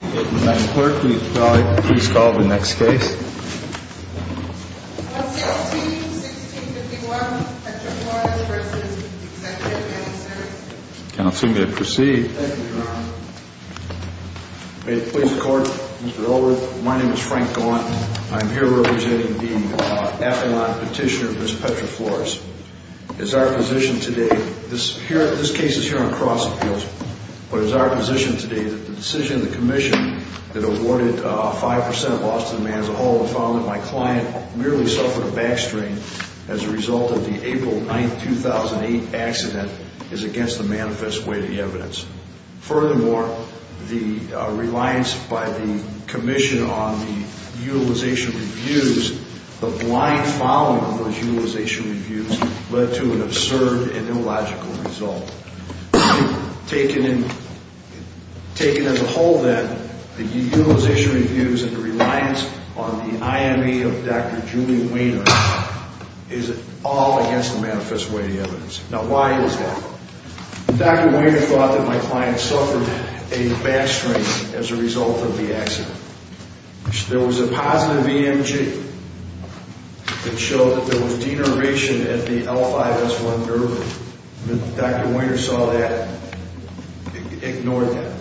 Mr. Clerk, will you please call the next case? Clause 16, 1651, Petra Flores v. Executive Managers Counsel may proceed. Thank you, Your Honor. May it please the Court, Mr. Ullrich, my name is Frank Gaunt. I am here representing the affidavit petitioner, Ms. Petra Flores. It is our position today, this case is here on cross appeals, but it is our position today that the decision of the Commission that awarded a 5% loss to the man as a whole and found that my client merely suffered a back strain as a result of the April 9, 2008 accident is against the manifest way of the evidence. Furthermore, the reliance by the Commission on the utilization reviews, the blind following of those utilization reviews, led to an absurd and illogical result. Taken as a whole, then, the utilization reviews and the reliance on the IME of Dr. Julian Weiner is all against the manifest way of the evidence. Now, why is that? Dr. Weiner thought that my client suffered a back strain as a result of the accident. There was a positive EMG that showed that there was denervation at the L5-S1 nerve. Dr. Weiner saw that and ignored that.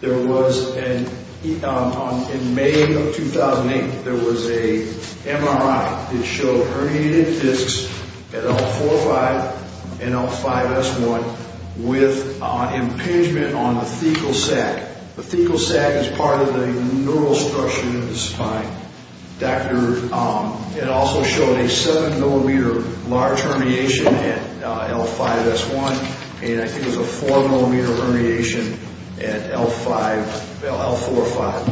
There was, in May of 2008, there was a MRI that showed herniated discs at L4-5 and L5-S1 with impingement on the fecal sac. The fecal sac is part of the neural structure of the spine. It also showed a 7-millimeter large herniation at L5-S1 and I think it was a 4-millimeter herniation at L4-5.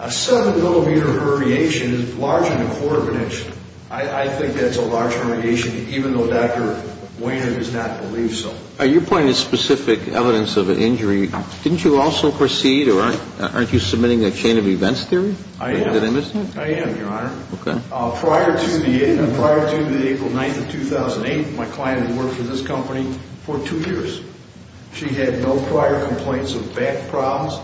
A 7-millimeter herniation is larger than a quarter of an inch. I think that's a large herniation even though Dr. Weiner does not believe so. Your point is specific evidence of an injury. Didn't you also proceed or aren't you submitting a chain of events theory? I am, Your Honor. Prior to the April 9th of 2008, my client had worked for this company for two years. She had no prior complaints of back problems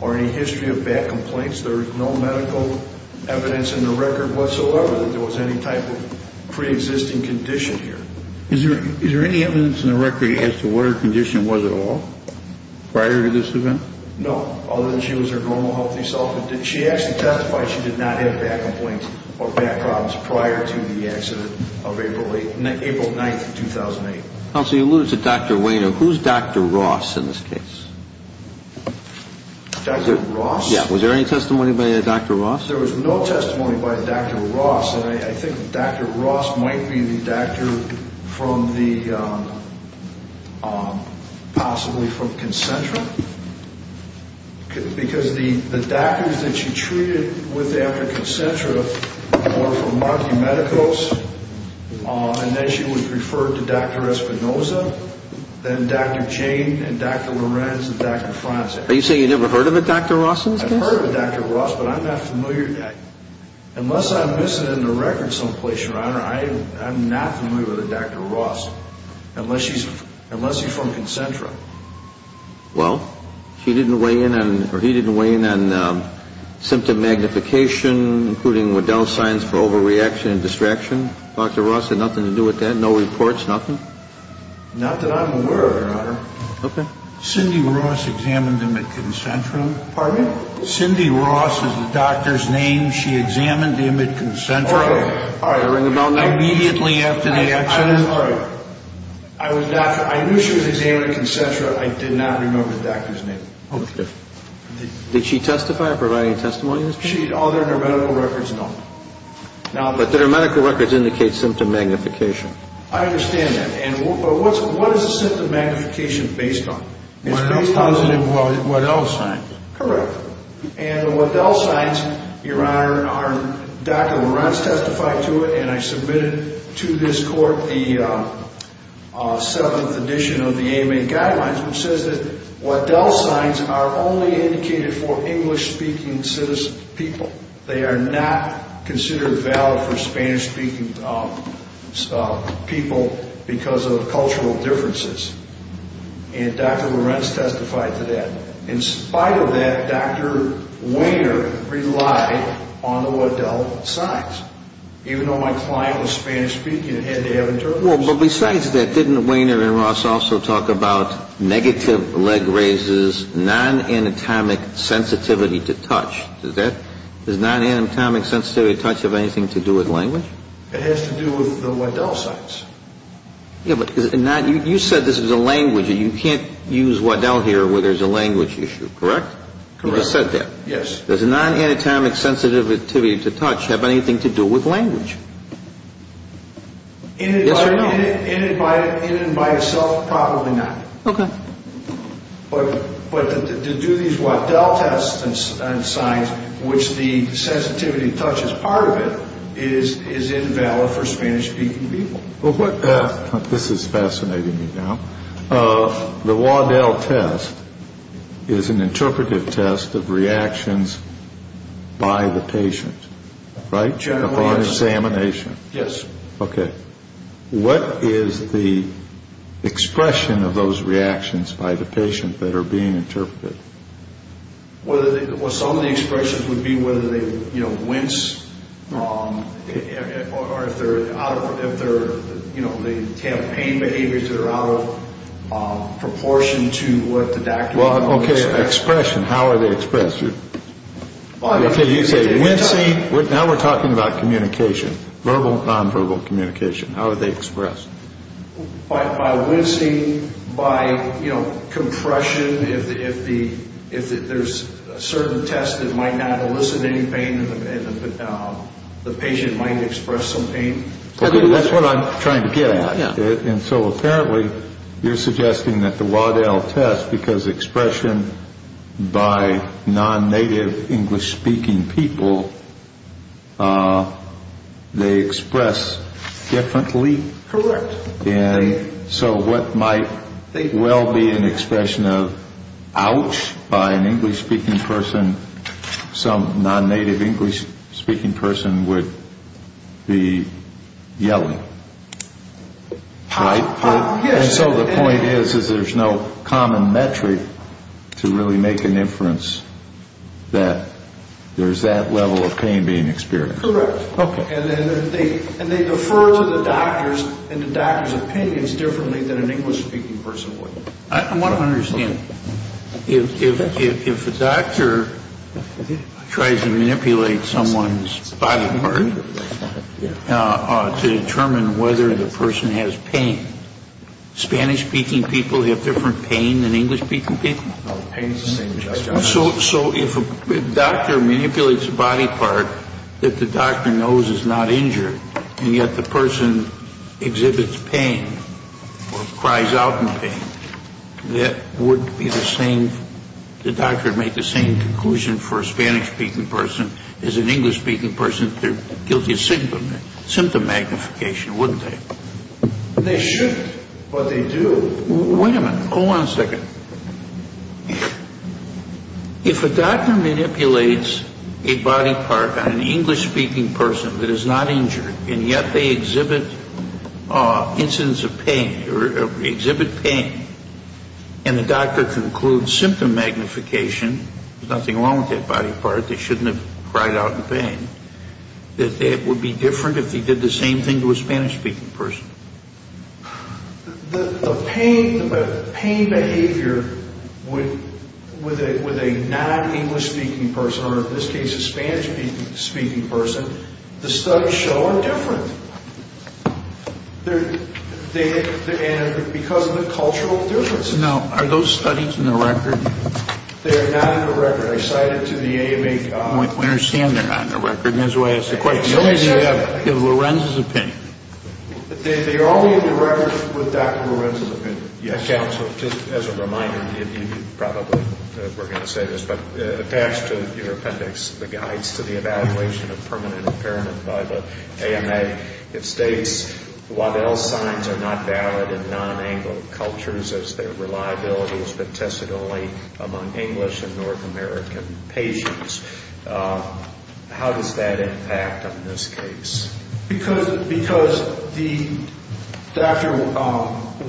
or any history of back complaints. There is no medical evidence in the record whatsoever that there was any type of preexisting condition here. Is there any evidence in the record as to what her condition was at all prior to this event? No, other than she was her normal healthy self. She actually testified she did not have back complaints or back problems prior to the accident of April 9th, 2008. Counsel, you alluded to Dr. Weiner. Who's Dr. Ross in this case? Dr. Ross? Yeah, was there any testimony by Dr. Ross? There was no testimony by Dr. Ross, and I think Dr. Ross might be the doctor possibly from Concentra because the doctors that she treated with after Concentra were from Markey Medicos, and then she was referred to Dr. Espinoza, then Dr. Jane, and Dr. Lorenz, and Dr. Franz. Are you saying you never heard of a Dr. Ross in this case? I've heard of a Dr. Ross, but I'm not familiar. Unless I'm missing it in the record someplace, Your Honor, I'm not familiar with a Dr. Ross, unless she's from Concentra. Well, she didn't weigh in on, or he didn't weigh in on symptom magnification, including with Dow signs for overreaction and distraction. Dr. Ross had nothing to do with that, no reports, nothing? Not that I'm aware of, Your Honor. Okay. Cindy Ross examined him at Concentra. Pardon me? Cindy Ross is the doctor's name. She examined him at Concentra immediately after the accident. I knew she was examined at Concentra. I did not remember the doctor's name. Okay. Did she testify or provide any testimony in this case? All of her medical records, no. But did her medical records indicate symptom magnification? I understand that. But what is the symptom magnification based on? It's based on the Waddell signs. Correct. And the Waddell signs, Your Honor, Dr. Lorenz testified to it, and I submitted to this court the seventh edition of the AMA guidelines, which says that Waddell signs are only indicated for English-speaking citizens, people. They are not considered valid for Spanish-speaking people because of cultural differences. And Dr. Lorenz testified to that. In spite of that, Dr. Wainer relied on the Waddell signs. Even though my client was Spanish-speaking, it had to have a German sign. Well, but besides that, didn't Wainer and Ross also talk about negative leg raises, non-anatomic sensitivity to touch? Does non-anatomic sensitivity to touch have anything to do with language? It has to do with the Waddell signs. Yeah, but you said this was a language. You can't use Waddell here where there's a language issue, correct? Correct. You just said that. Yes. Does non-anatomic sensitivity to touch have anything to do with language? Yes or no? In and by itself, probably not. Okay. But to do these Waddell tests and signs, which the sensitivity to touch is part of it, is invalid for Spanish-speaking people. This is fascinating me now. The Waddell test is an interpretive test of reactions by the patient, right? Upon examination. Yes. Okay. What is the expression of those reactions by the patient that are being interpreted? Well, some of the expressions would be whether they, you know, wince or if they're out of, you know, they have pain behaviors that are out of proportion to what the doctor Well, okay, expression. How are they expressed? Okay, you say wincing. Now we're talking about communication, verbal, nonverbal communication. How are they expressed? By wincing, by, you know, compression. If there's a certain test that might not elicit any pain and the patient might express some pain. That's what I'm trying to get at. And so apparently you're suggesting that the Waddell test, because expression by non-native English-speaking people, they express differently. Correct. And so what might well be an expression of ouch by an English-speaking person, some non-native English-speaking person would be yelling, right? Yes. And so the point is is there's no common metric to really make an inference that there's that level of pain being experienced. Correct. Okay. And they defer to the doctors and the doctor's opinions differently than an English-speaking person would. I want to understand. If a doctor tries to manipulate someone's body part to determine whether the person has pain, Spanish-speaking people have different pain than English-speaking people? No, pain is the same. So if a doctor manipulates a body part that the doctor knows is not injured and yet the person exhibits pain or cries out in pain, that would be the same, the doctor would make the same conclusion for a Spanish-speaking person as an English-speaking person if they're guilty of symptom magnification, wouldn't they? They should, but they do. Wait a minute. Hold on a second. If a doctor manipulates a body part on an English-speaking person that is not injured and yet they exhibit incidents of pain or exhibit pain and the doctor concludes symptom magnification, there's nothing wrong with that body part, they shouldn't have cried out in pain, that it would be different if they did the same thing to a Spanish-speaking person? The pain behavior with a non-English-speaking person, or in this case a Spanish-speaking person, the studies show are different. And because of the cultural differences. Now, are those studies in the record? They are not in the record. I cited to the AMA... I understand they're not in the record. That's why I asked the question. Lorenzo's opinion. Did they all be in the record with Dr. Lorenzo's opinion? Yes. Counsel, just as a reminder, you probably were going to say this, but attached to your appendix, the guides to the evaluation of permanent impairment by the AMA, it states Waddell's signs are not valid in non-Anglo cultures as their reliability has been tested only among English and North American patients. How does that impact on this case? Because Dr.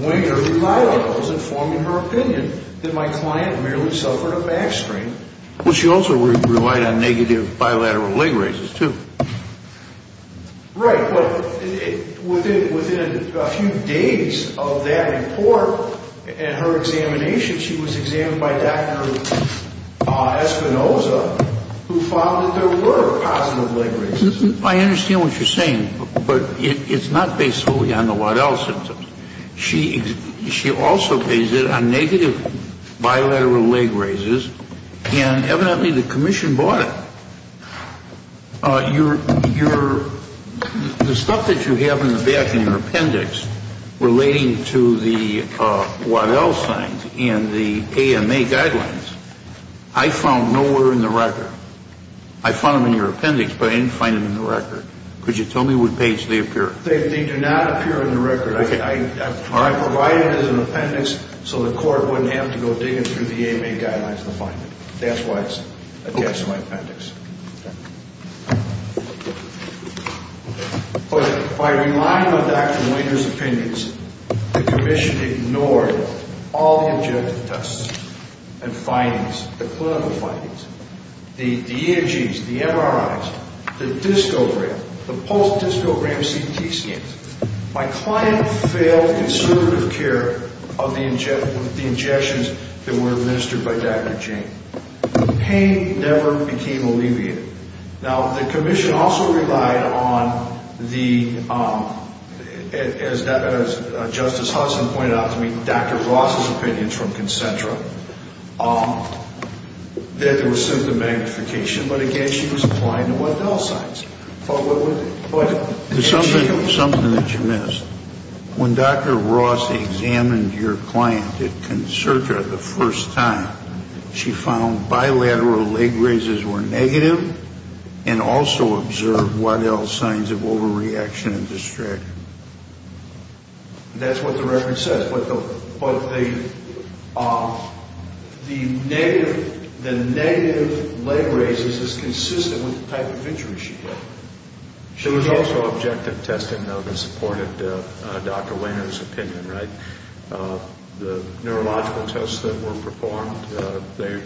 Winger relied on those informing her opinion, that my client merely suffered a back strain. Well, she also relied on negative bilateral leg raises, too. Right, but within a few days of that report and her examination, she was examined by Dr. Espinosa, who found that there were positive leg raises. I understand what you're saying, but it's not based solely on the Waddell symptoms. She also based it on negative bilateral leg raises, and evidently the commission bought it. The stuff that you have in the back in your appendix relating to the Waddell signs and the AMA guidelines, I found nowhere in the record. I found them in your appendix, but I didn't find them in the record. Could you tell me what page they appear in? They do not appear in the record. I provided it as an appendix so the court wouldn't have to go digging through the AMA guidelines to find it. That's why it's attached to my appendix. But by relying on Dr. Wader's opinions, the commission ignored all the objective tests and findings, the clinical findings, the ENGs, the MRIs, the discogram, the post-discogram CT scans. My client failed conservative care of the injections that were administered by Dr. Jane. The pain never became alleviated. Now, the commission also relied on the, as Justice Hudson pointed out to me, Dr. Ross's opinions from Concentra that there was symptom magnification, but, again, she was applying to Waddell signs. There's something that you missed. When Dr. Ross examined your client at Concentra the first time, she found bilateral leg raises were negative and also observed Waddell signs of overreaction and distraction. That's what the record says, but the negative leg raises is consistent with the type of injuries she had. There was also objective testing, though, that supported Dr. Wader's opinion, right? The neurological tests that were performed, they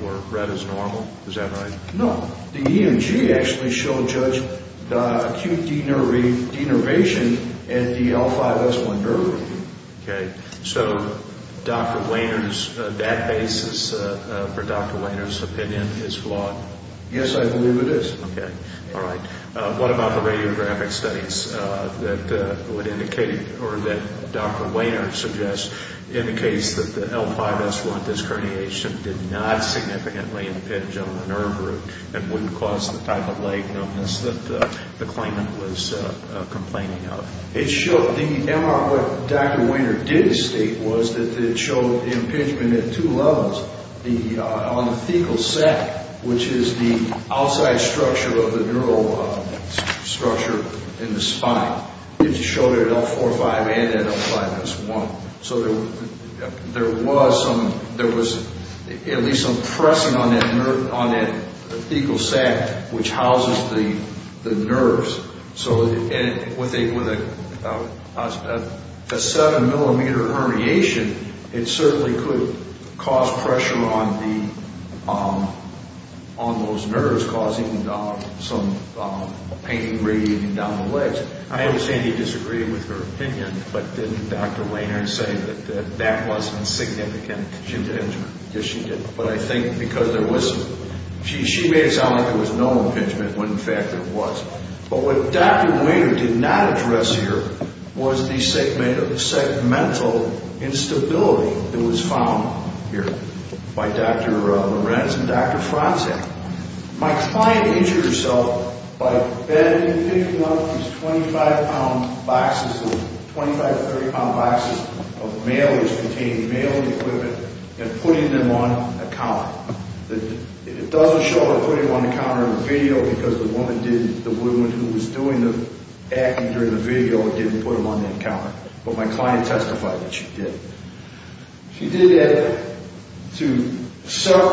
were read as normal. Is that right? No. The ENG actually showed, Judge, acute denervation in the L5S1 nerve. Okay. So Dr. Wader's, that basis for Dr. Wader's opinion is flawed? Yes, I believe it is. Okay. All right. What about the radiographic studies that would indicate, or that Dr. Wader suggests, indicates that the L5S1 disc herniation did not significantly impinge on the nerve root and wouldn't cause the type of leg numbness that the claimant was complaining of? It showed, what Dr. Wader did state was that it showed impingement at two levels. On the fecal sac, which is the outside structure of the neural structure in the spine, it showed an L4-5 and an L5S1. So there was at least some pressing on that fecal sac, which houses the nerves. So with a 7-millimeter herniation, it certainly could cause pressure on those nerves, causing some pain radiating down the legs. I understand he disagreed with her opinion, but didn't Dr. Wader say that that wasn't significant? She didn't. Yes, she did. But I think because there was, she made it sound like there was no impingement when in fact there was. But what Dr. Wader did not address here was the segmental instability that was found here by Dr. Lorenz and Dr. Franze. My client injured herself by bending and picking up these 25-pound boxes, 25-30-pound boxes, of mailers containing mailing equipment and putting them on a counter. It doesn't show her putting them on the counter in the video, because the woman who was doing the acting during the video didn't put them on the counter. But my client testified that she did. She did that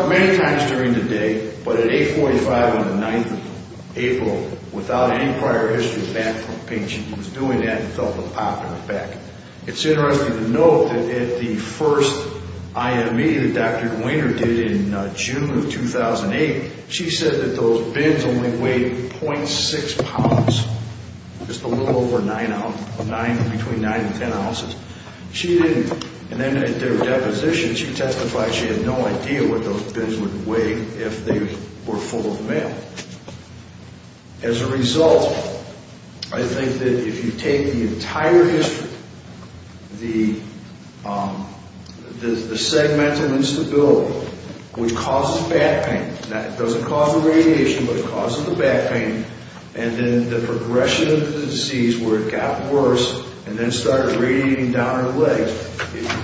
many times during the day, but at 8.45 on the 9th of April, without any prior history of back pain, she was doing that and felt a pop in her back. It's interesting to note that at the first IME that Dr. Gwener did in June of 2008, she said that those bins only weighed .6 pounds, just a little over 9, between 9 and 10 ounces. She didn't, and then at their deposition she testified she had no idea what those bins would weigh if they were full of mail. As a result, I think that if you take the entire history, the segment of instability which causes back pain, it doesn't cause the radiation, but it causes the back pain, and then the progression of the disease where it got worse and then started radiating down her legs,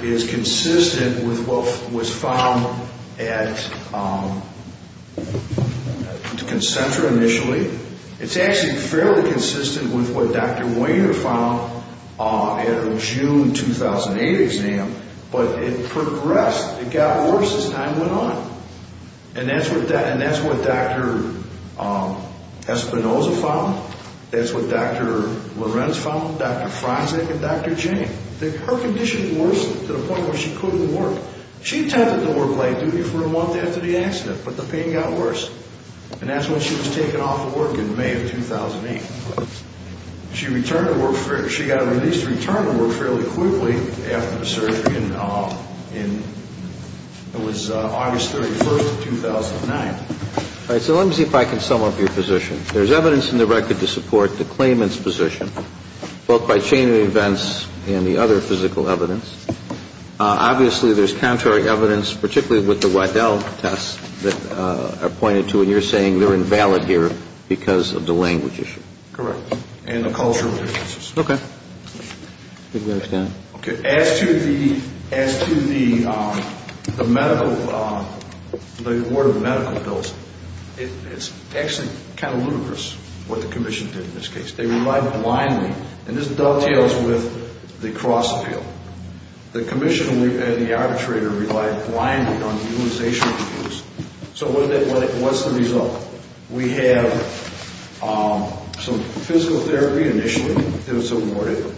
is consistent with what was found at Concentra initially. It's actually fairly consistent with what Dr. Wainer found at her June 2008 exam, but it progressed. It got worse as time went on. And that's what Dr. Espinoza found. That's what Dr. Lorenz found, Dr. Franzek and Dr. Jane. Her condition worsened to the point where she couldn't work. She attempted to work late duty for a month after the accident, but the pain got worse. And that's when she was taken off of work in May of 2008. She got released and returned to work fairly quickly after the surgery. It was August 31st of 2009. All right, so let me see if I can sum up your position. There's evidence in the record to support the claimant's position, both by chain of events and the other physical evidence. Obviously, there's contrary evidence, particularly with the Weidel tests, that are pointed to when you're saying they're invalid here because of the language issue. Correct, and the cultural differences. Okay. As to the award of medical bills, it's actually kind of ludicrous what the commission did in this case. They relied blindly, and this dovetails with the cross-appeal. The commission and the arbitrator relied blindly on the utilization of the tools. So what's the result? We have some physical therapy initially that was awarded.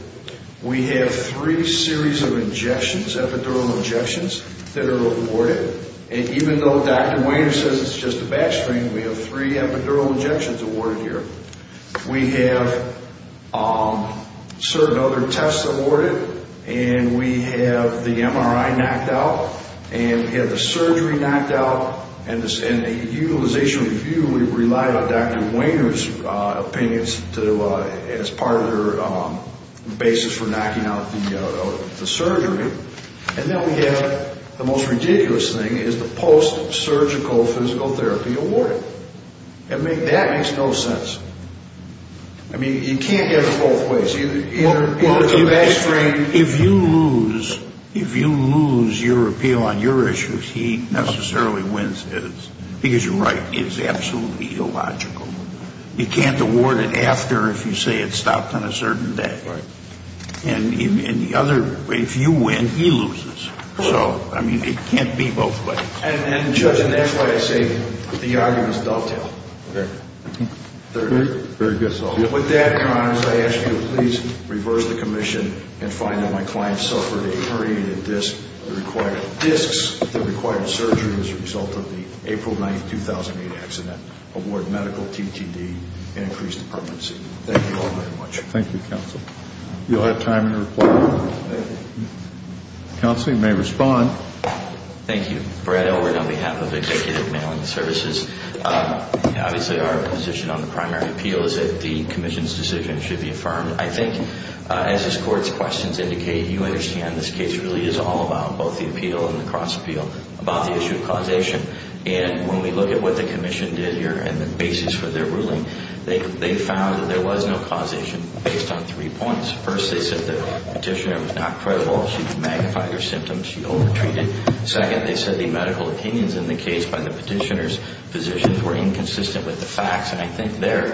We have three series of injections, epidural injections, that are awarded. And even though Dr. Weiner says it's just a back strain, we have three epidural injections awarded here. We have certain other tests awarded, and we have the MRI knocked out, and we have the surgery knocked out, and the utilization review relied on Dr. Weiner's opinions as part of their basis for knocking out the surgery. And then we have the most ridiculous thing is the post-surgical physical therapy awarded. I mean, that makes no sense. I mean, you can't get it both ways. Either it's a back strain. If you lose your appeal on your issues, he necessarily wins his, because you're right, it's absolutely illogical. You can't award it after if you say it stopped on a certain day. Right. And the other, if you win, he loses. So, I mean, it can't be both ways. And, Judge, and that's why I say the argument is dovetail. Very good. With that, Connors, I ask you to please reverse the commission and find that my client suffered a herniated disc that required discs that required surgery as a result of the April 9, 2008 accident, award medical TTD, and increase the permanency. Thank you all very much. Thank you, Counsel. Do you all have time to reply? Counsel, you may respond. Thank you. Brad Overton on behalf of Executive Mailing Services. Obviously, our position on the primary appeal is that the commission's decision should be affirmed. I think, as this Court's questions indicate, you understand this case really is all about both the appeal and the cross appeal, about the issue of causation. And when we look at what the commission did here and the basis for their ruling, they found that there was no causation based on three points. First, they said the petitioner was not credible. She magnified her symptoms. She over-treated. Second, they said the medical opinions in the case by the petitioner's physicians were inconsistent with the facts. And I think there,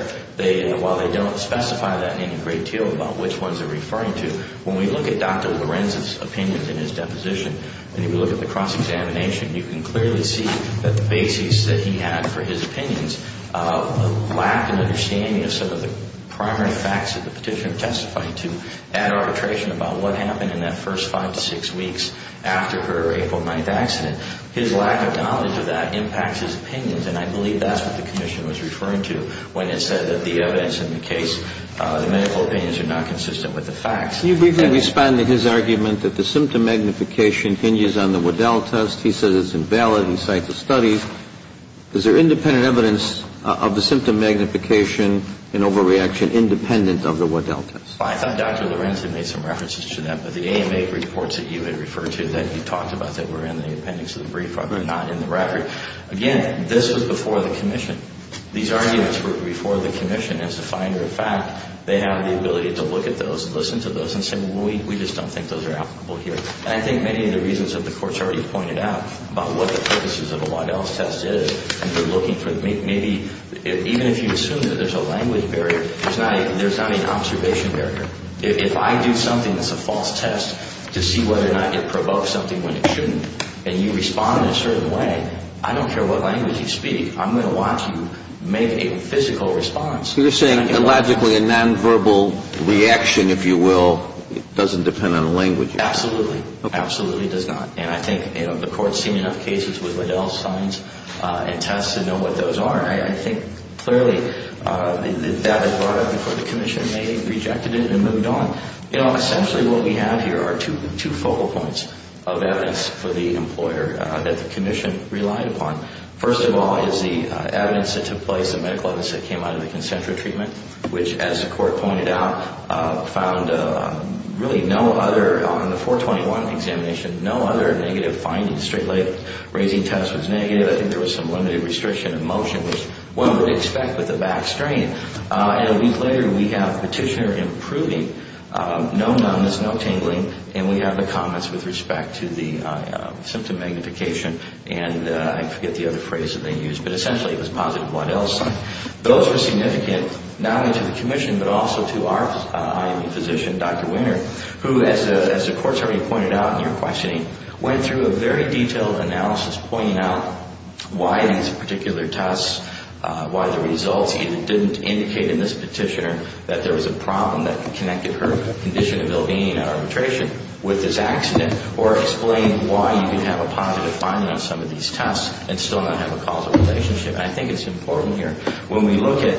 while they don't specify that in a great deal about which ones they're referring to, when we look at Dr. Lorenz's opinions in his deposition, and we look at the cross-examination, you can clearly see that the basis that he had for his opinions lacked an understanding of some of the primary facts that the petitioner testified to at arbitration about what happened in that first five to six weeks after her April 9th accident. His lack of knowledge of that impacts his opinions, and I believe that's what the commission was referring to when it said that the evidence in the case, the medical opinions are not consistent with the facts. Can you briefly respond to his argument that the symptom magnification hinges on the Waddell test? He says it's invalid in sites of study. Is there independent evidence of the symptom magnification and overreaction independent of the Waddell test? Well, I thought Dr. Lorenz had made some references to that, but the AMA reports that you had referred to that you talked about that were in the appendix of the brief are not in the record. Again, this was before the commission. These arguments were before the commission as a finder of fact. They have the ability to look at those, listen to those, and say, well, we just don't think those are applicable here. And I think many of the reasons that the courts already pointed out about what the purposes of a Waddell test is and they're looking for maybe, even if you assume that there's a language barrier, there's not an observation barrier. If I do something that's a false test to see whether or not it provokes something when it shouldn't and you respond in a certain way, I don't care what language you speak. I'm going to watch you make a physical response. You're saying illogically a nonverbal reaction, if you will, doesn't depend on the language. Absolutely. Absolutely it does not. And I think the courts have seen enough cases with Waddell signs and tests to know what those are. I think clearly that was brought up before the commission. They rejected it and moved on. Essentially what we have here are two focal points of evidence for the employer that the commission relied upon. First of all is the evidence that took place, the medical evidence that came out of the concentric treatment, which, as the court pointed out, found really no other, on the 421 examination, no other negative findings. The straight-leg raising test was negative. I think there was some limited restriction of motion, which one would expect with a back strain. And a week later we have Petitioner improving. No numbness, no tingling, and we have the comments with respect to the symptom magnification and I forget the other phrase that they used, but essentially it was positive Waddell sign. Those were significant not only to the commission but also to our IME physician, Dr. Winner, who, as the courts already pointed out in your questioning, went through a very detailed analysis pointing out why these particular tests, why the results either didn't indicate in this petitioner that there was a problem that connected her condition ability and arbitration with this accident or explained why you can have a positive finding on some of these tests and still not have a causal relationship. I think it's important here when we look at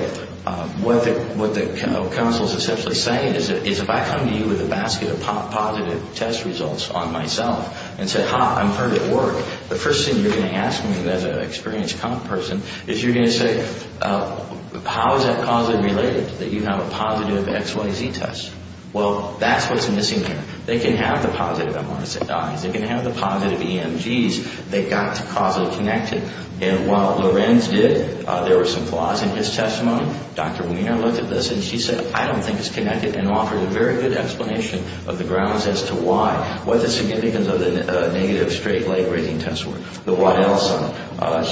what the counsel is essentially saying is if I come to you with a basket of positive test results on myself and say, ha, I'm hurt at work, the first thing you're going to ask me as an experienced comp person is you're going to say, how is that causally related that you have a positive XYZ test? Well, that's what's missing here. They can have the positive MRSAIs. They can have the positive EMGs that got causally connected. And while Lorenz did, there were some flaws in his testimony. Dr. Weiner looked at this, and she said, I don't think it's connected and offered a very good explanation of the grounds as to why, what the significance of the negative straight leg rating tests were. But what else?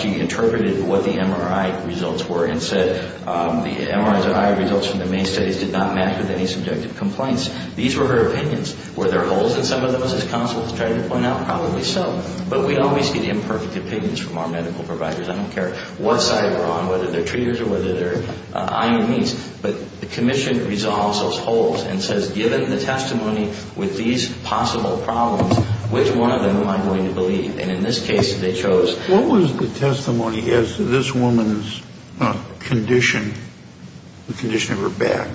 She interpreted what the MRI results were and said the MRI results from the main studies did not match with any subjective complaints. These were her opinions. Were there holes in some of those, as counsel tried to point out? Probably so. But we always get imperfect opinions from our medical providers. I don't care what side they're on, whether they're treaters or whether they're IMEs. But the commission resolves those holes and says, given the testimony with these possible problems, which one of them am I going to believe? And in this case, they chose. What was the testimony as to this woman's condition, the condition of her back,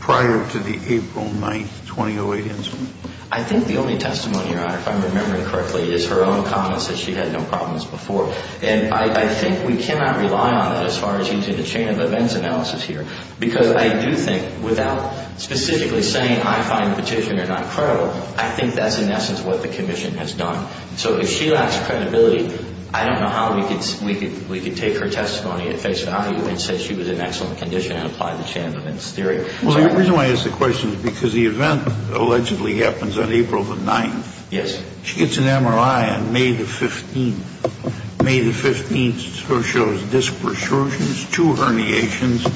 prior to the April 9, 2008 incident? I think the only testimony, Your Honor, if I'm remembering correctly, is her own comments that she had no problems before. And I think we cannot rely on that as far as using the chain of events analysis here. Because I do think, without specifically saying I find the petitioner not credible, I think that's, in essence, what the commission has done. So if she lacks credibility, I don't know how we could take her testimony at face value and say she was in excellent condition and apply the chain of events theory. Well, the reason why I ask the question is because the event allegedly happens on April the 9th. Yes. She gets an MRI on May the 15th. May the 15th shows disc protrusions, two herniations,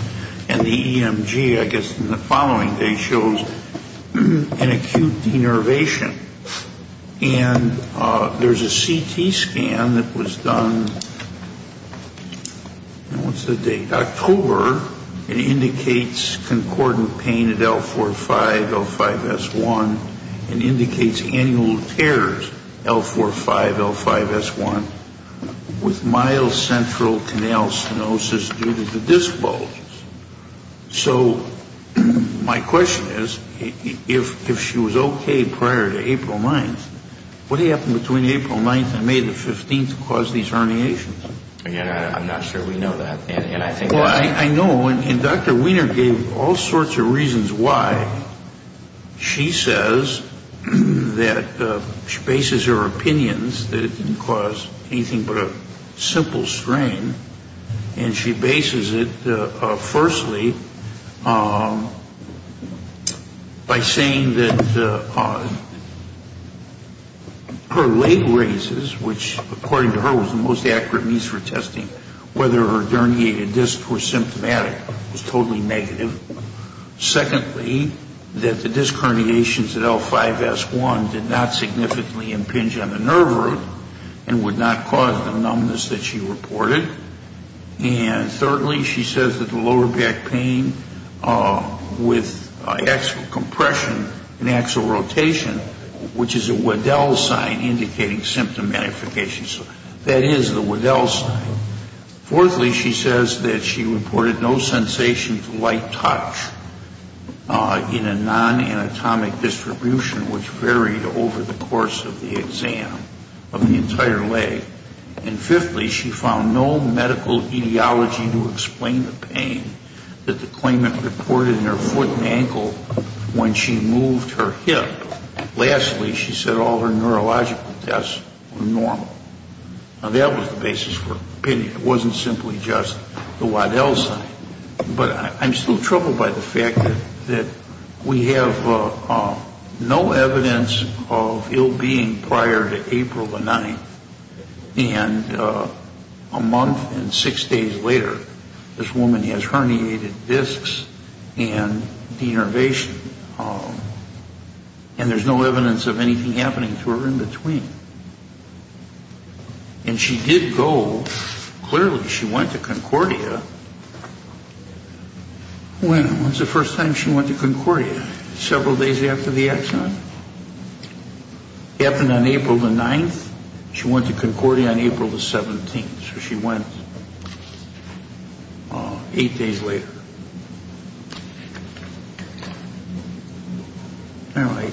and the EMG, I guess, in the following day shows an acute denervation. And there's a CT scan that was done, what's the date, October. It indicates concordant pain at L45, L5S1. It indicates annual tears, L45, L5S1, with mild central canal stenosis due to the disc bulges. So my question is, if she was okay prior to April 9th, what happened between April 9th and May the 15th caused these herniations? Again, I'm not sure we know that. Well, I know, and Dr. Wiener gave all sorts of reasons why she says that she bases her opinions that it didn't cause anything but a simple strain. And she bases it, firstly, by saying that her leg raises, which according to her was the most accurate means for testing whether her derniated disc was symptomatic, was totally negative. Secondly, that the disc herniations at L5S1 did not significantly impinge on the nerve root and would not cause the numbness that she reported. And thirdly, she says that the lower back pain with axial compression and axial rotation, which is a Waddell sign indicating symptom identification, that is the Waddell sign. Fourthly, she says that she reported no sensation to light touch in a non-anatomic distribution which varied over the course of the exam of the entire leg. And fifthly, she found no medical etiology to explain the pain that the claimant reported in her foot and ankle when she moved her hip. Lastly, she said all her neurological tests were normal. Now, that was the basis for opinion. It wasn't simply just the Waddell sign. But I'm still troubled by the fact that we have no evidence of ill being prior to April the 9th. And a month and six days later, this woman has herniated discs and denervation. And there's no evidence of anything happening to her in between. And she did go, clearly she went to Concordia. When was the first time she went to Concordia? Several days after the accident? It happened on April the 9th. She went to Concordia on April the 17th. So she went eight days later. All right.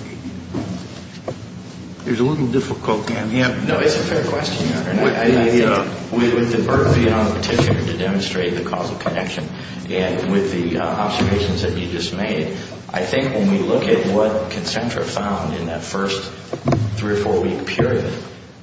There's a little difficulty on the end. No, it's a fair question, Your Honor. With the vertity on the petition to demonstrate the causal connection and with the observations that you just made, I think when we look at what Concentra found in that first three or four-week period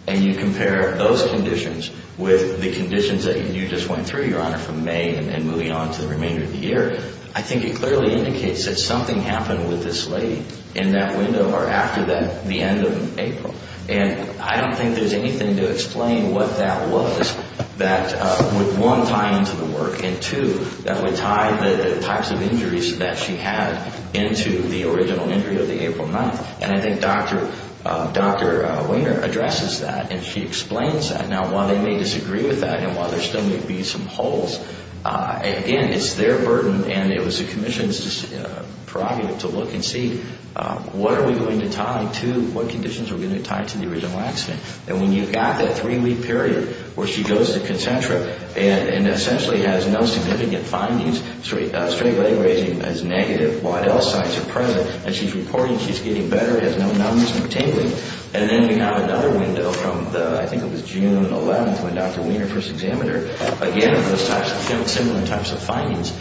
and you compare those conditions with the conditions that you just went through, Your Honor, from May and moving on to the remainder of the year, I think it clearly indicates that something happened with this lady in that window or after the end of April. And I don't think there's anything to explain what that was that would, one, tie into the work, and two, that would tie the types of injuries that she had into the original injury of the April 9th. And I think Dr. Wainer addresses that, and she explains that. Now, while they may disagree with that and while there still may be some holes, again, it's their burden and it was the commission's prerogative to look and see what are we going to tie to, what conditions are we going to tie to the original accident. And when you've got that three-week period where she goes to Concentra and essentially has no significant findings, straight leg raising is negative, Waddell signs are present, and she's reporting she's getting better, has no numbs, no tingling. And then we have another window from I think it was June 11th when Dr. Wainer first examined her. Again, those types of similar types of findings.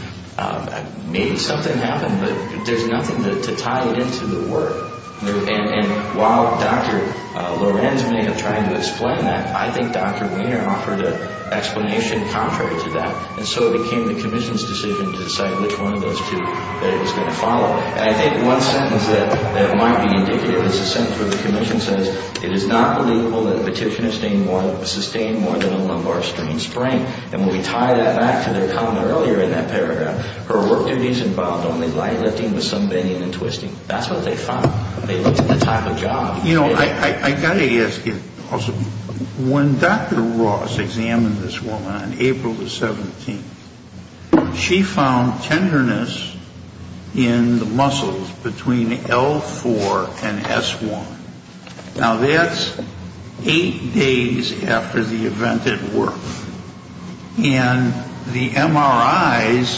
Maybe something happened, but there's nothing to tie it into the work. And while Dr. Lorenz may have tried to explain that, I think Dr. Wainer offered an explanation contrary to that, and so it became the commission's decision to decide which one of those two that it was going to follow. And I think one sentence that might be indicative is a sentence where the commission says, it is not legal that a petitioner sustain more than a lumbar strain sprain. And when we tie that back to their comment earlier in that paragraph, her work duties involved only light lifting with some bending and twisting. That's what they found. They looked at the type of job. You know, I got to ask you also, when Dr. Ross examined this woman on April the 17th, she found tenderness in the muscles between L4 and S1. Now, that's eight days after the event at work. And the MRIs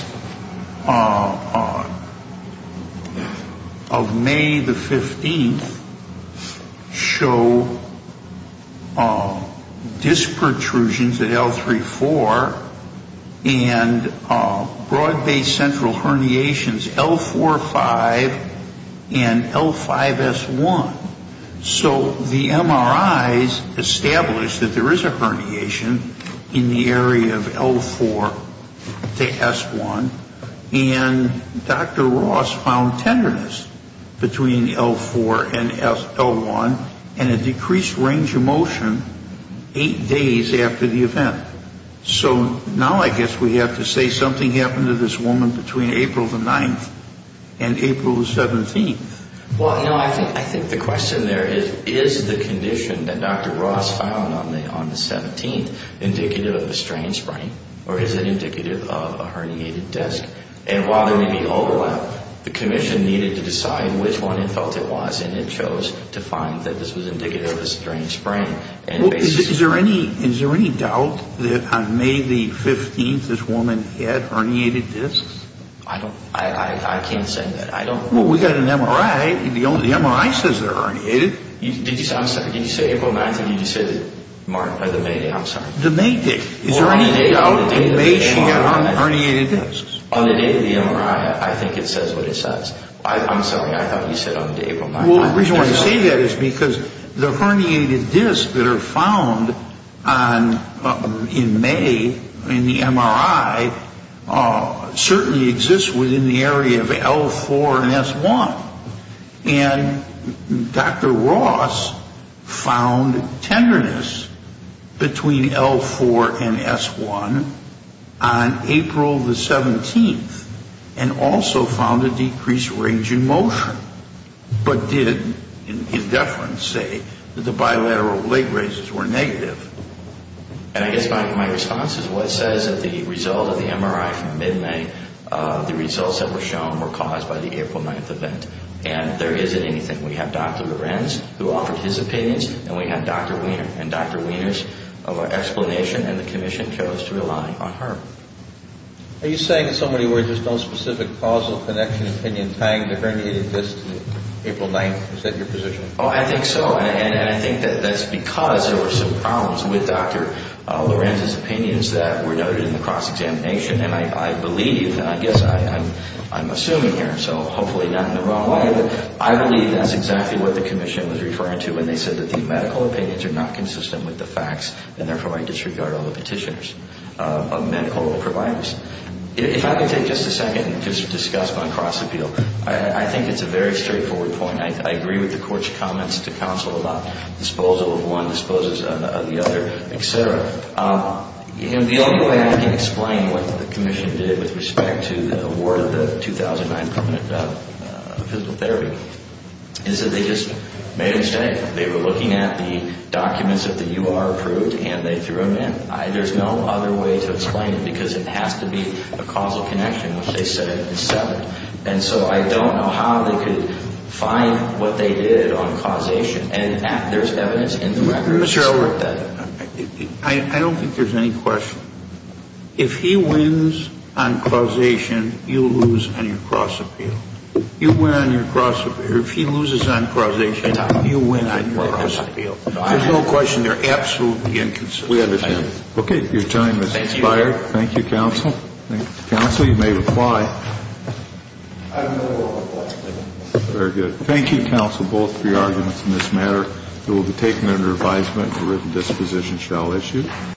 of May the 15th show disc protrusions at L3-4 and broad-based central herniations L4-5 and L5-S1. So the MRIs established that there is a herniation in the area of L4 to S1, and Dr. Ross found tenderness between L4 and L1 and a decreased range of motion eight days after the event. So now I guess we have to say something happened to this woman between April the 9th and April the 17th. Well, you know, I think the question there is, is the condition that Dr. Ross found on the 17th indicative of a strain sprain, or is it indicative of a herniated disc? And while there may be overlap, the commission needed to decide which one it felt it was, and it chose to find that this was indicative of a strain sprain. Is there any doubt that on May the 15th this woman had herniated discs? I can't say that. Well, we've got an MRI. The MRI says they're herniated. Did you say April 9th, or did you say the May day? The May day. Is there any doubt that May she had herniated discs? On the day of the MRI, I think it says what it says. I'm sorry. I thought you said on April 9th. Well, the reason why I say that is because the herniated discs that are found in May in the MRI certainly exist within the area of L4 and S1, and Dr. Ross found tenderness between L4 and S1 on April the 17th and also found a decreased range in motion, but did in deference say that the bilateral leg raises were negative. I guess my response is what says that the result of the MRI from mid-May, the results that were shown were caused by the April 9th event, and there isn't anything. We have Dr. Lorenz who offered his opinions, and we have Dr. Wiener, and Dr. Wiener's explanation and the commission chose to rely on her. Are you saying in so many words there's no specific causal connection, opinion, tying the herniated discs to April 9th? Is that your position? I think so, and I think that that's because there were some problems with Dr. Lorenz's opinions that were noted in the cross-examination, and I believe, and I guess I'm assuming here, so hopefully not in the wrong way, but I believe that's exactly what the commission was referring to when they said that the medical opinions are not consistent with the facts and therefore I disregard all the petitioners of medical providers. If I could take just a second to discuss my cross-appeal, I think it's a very straightforward point. I agree with the court's comments to counsel about disposal of one disposes of the other, et cetera. The only way I can explain what the commission did with respect to the award of the 2009 permanent physical therapy is that they just made a mistake. They were looking at the documents that the U.R. approved, and they threw them in. There's no other way to explain it because it has to be a causal connection, which they said is separate, and so I don't know how they could find what they did on causation, and there's evidence in the records. Mr. Elwood, I don't think there's any question. If he wins on causation, you lose on your cross-appeal. You win on your cross-appeal. If he loses on causation, you win on your cross-appeal. There's no question. They're absolutely inconsistent. We understand. Okay. Your time has expired. Thank you, counsel. Thank you, counsel. You may reply. Very good. Thank you, counsel, both for your arguments in this matter. It will be taken under advisement the written disposition shall issue.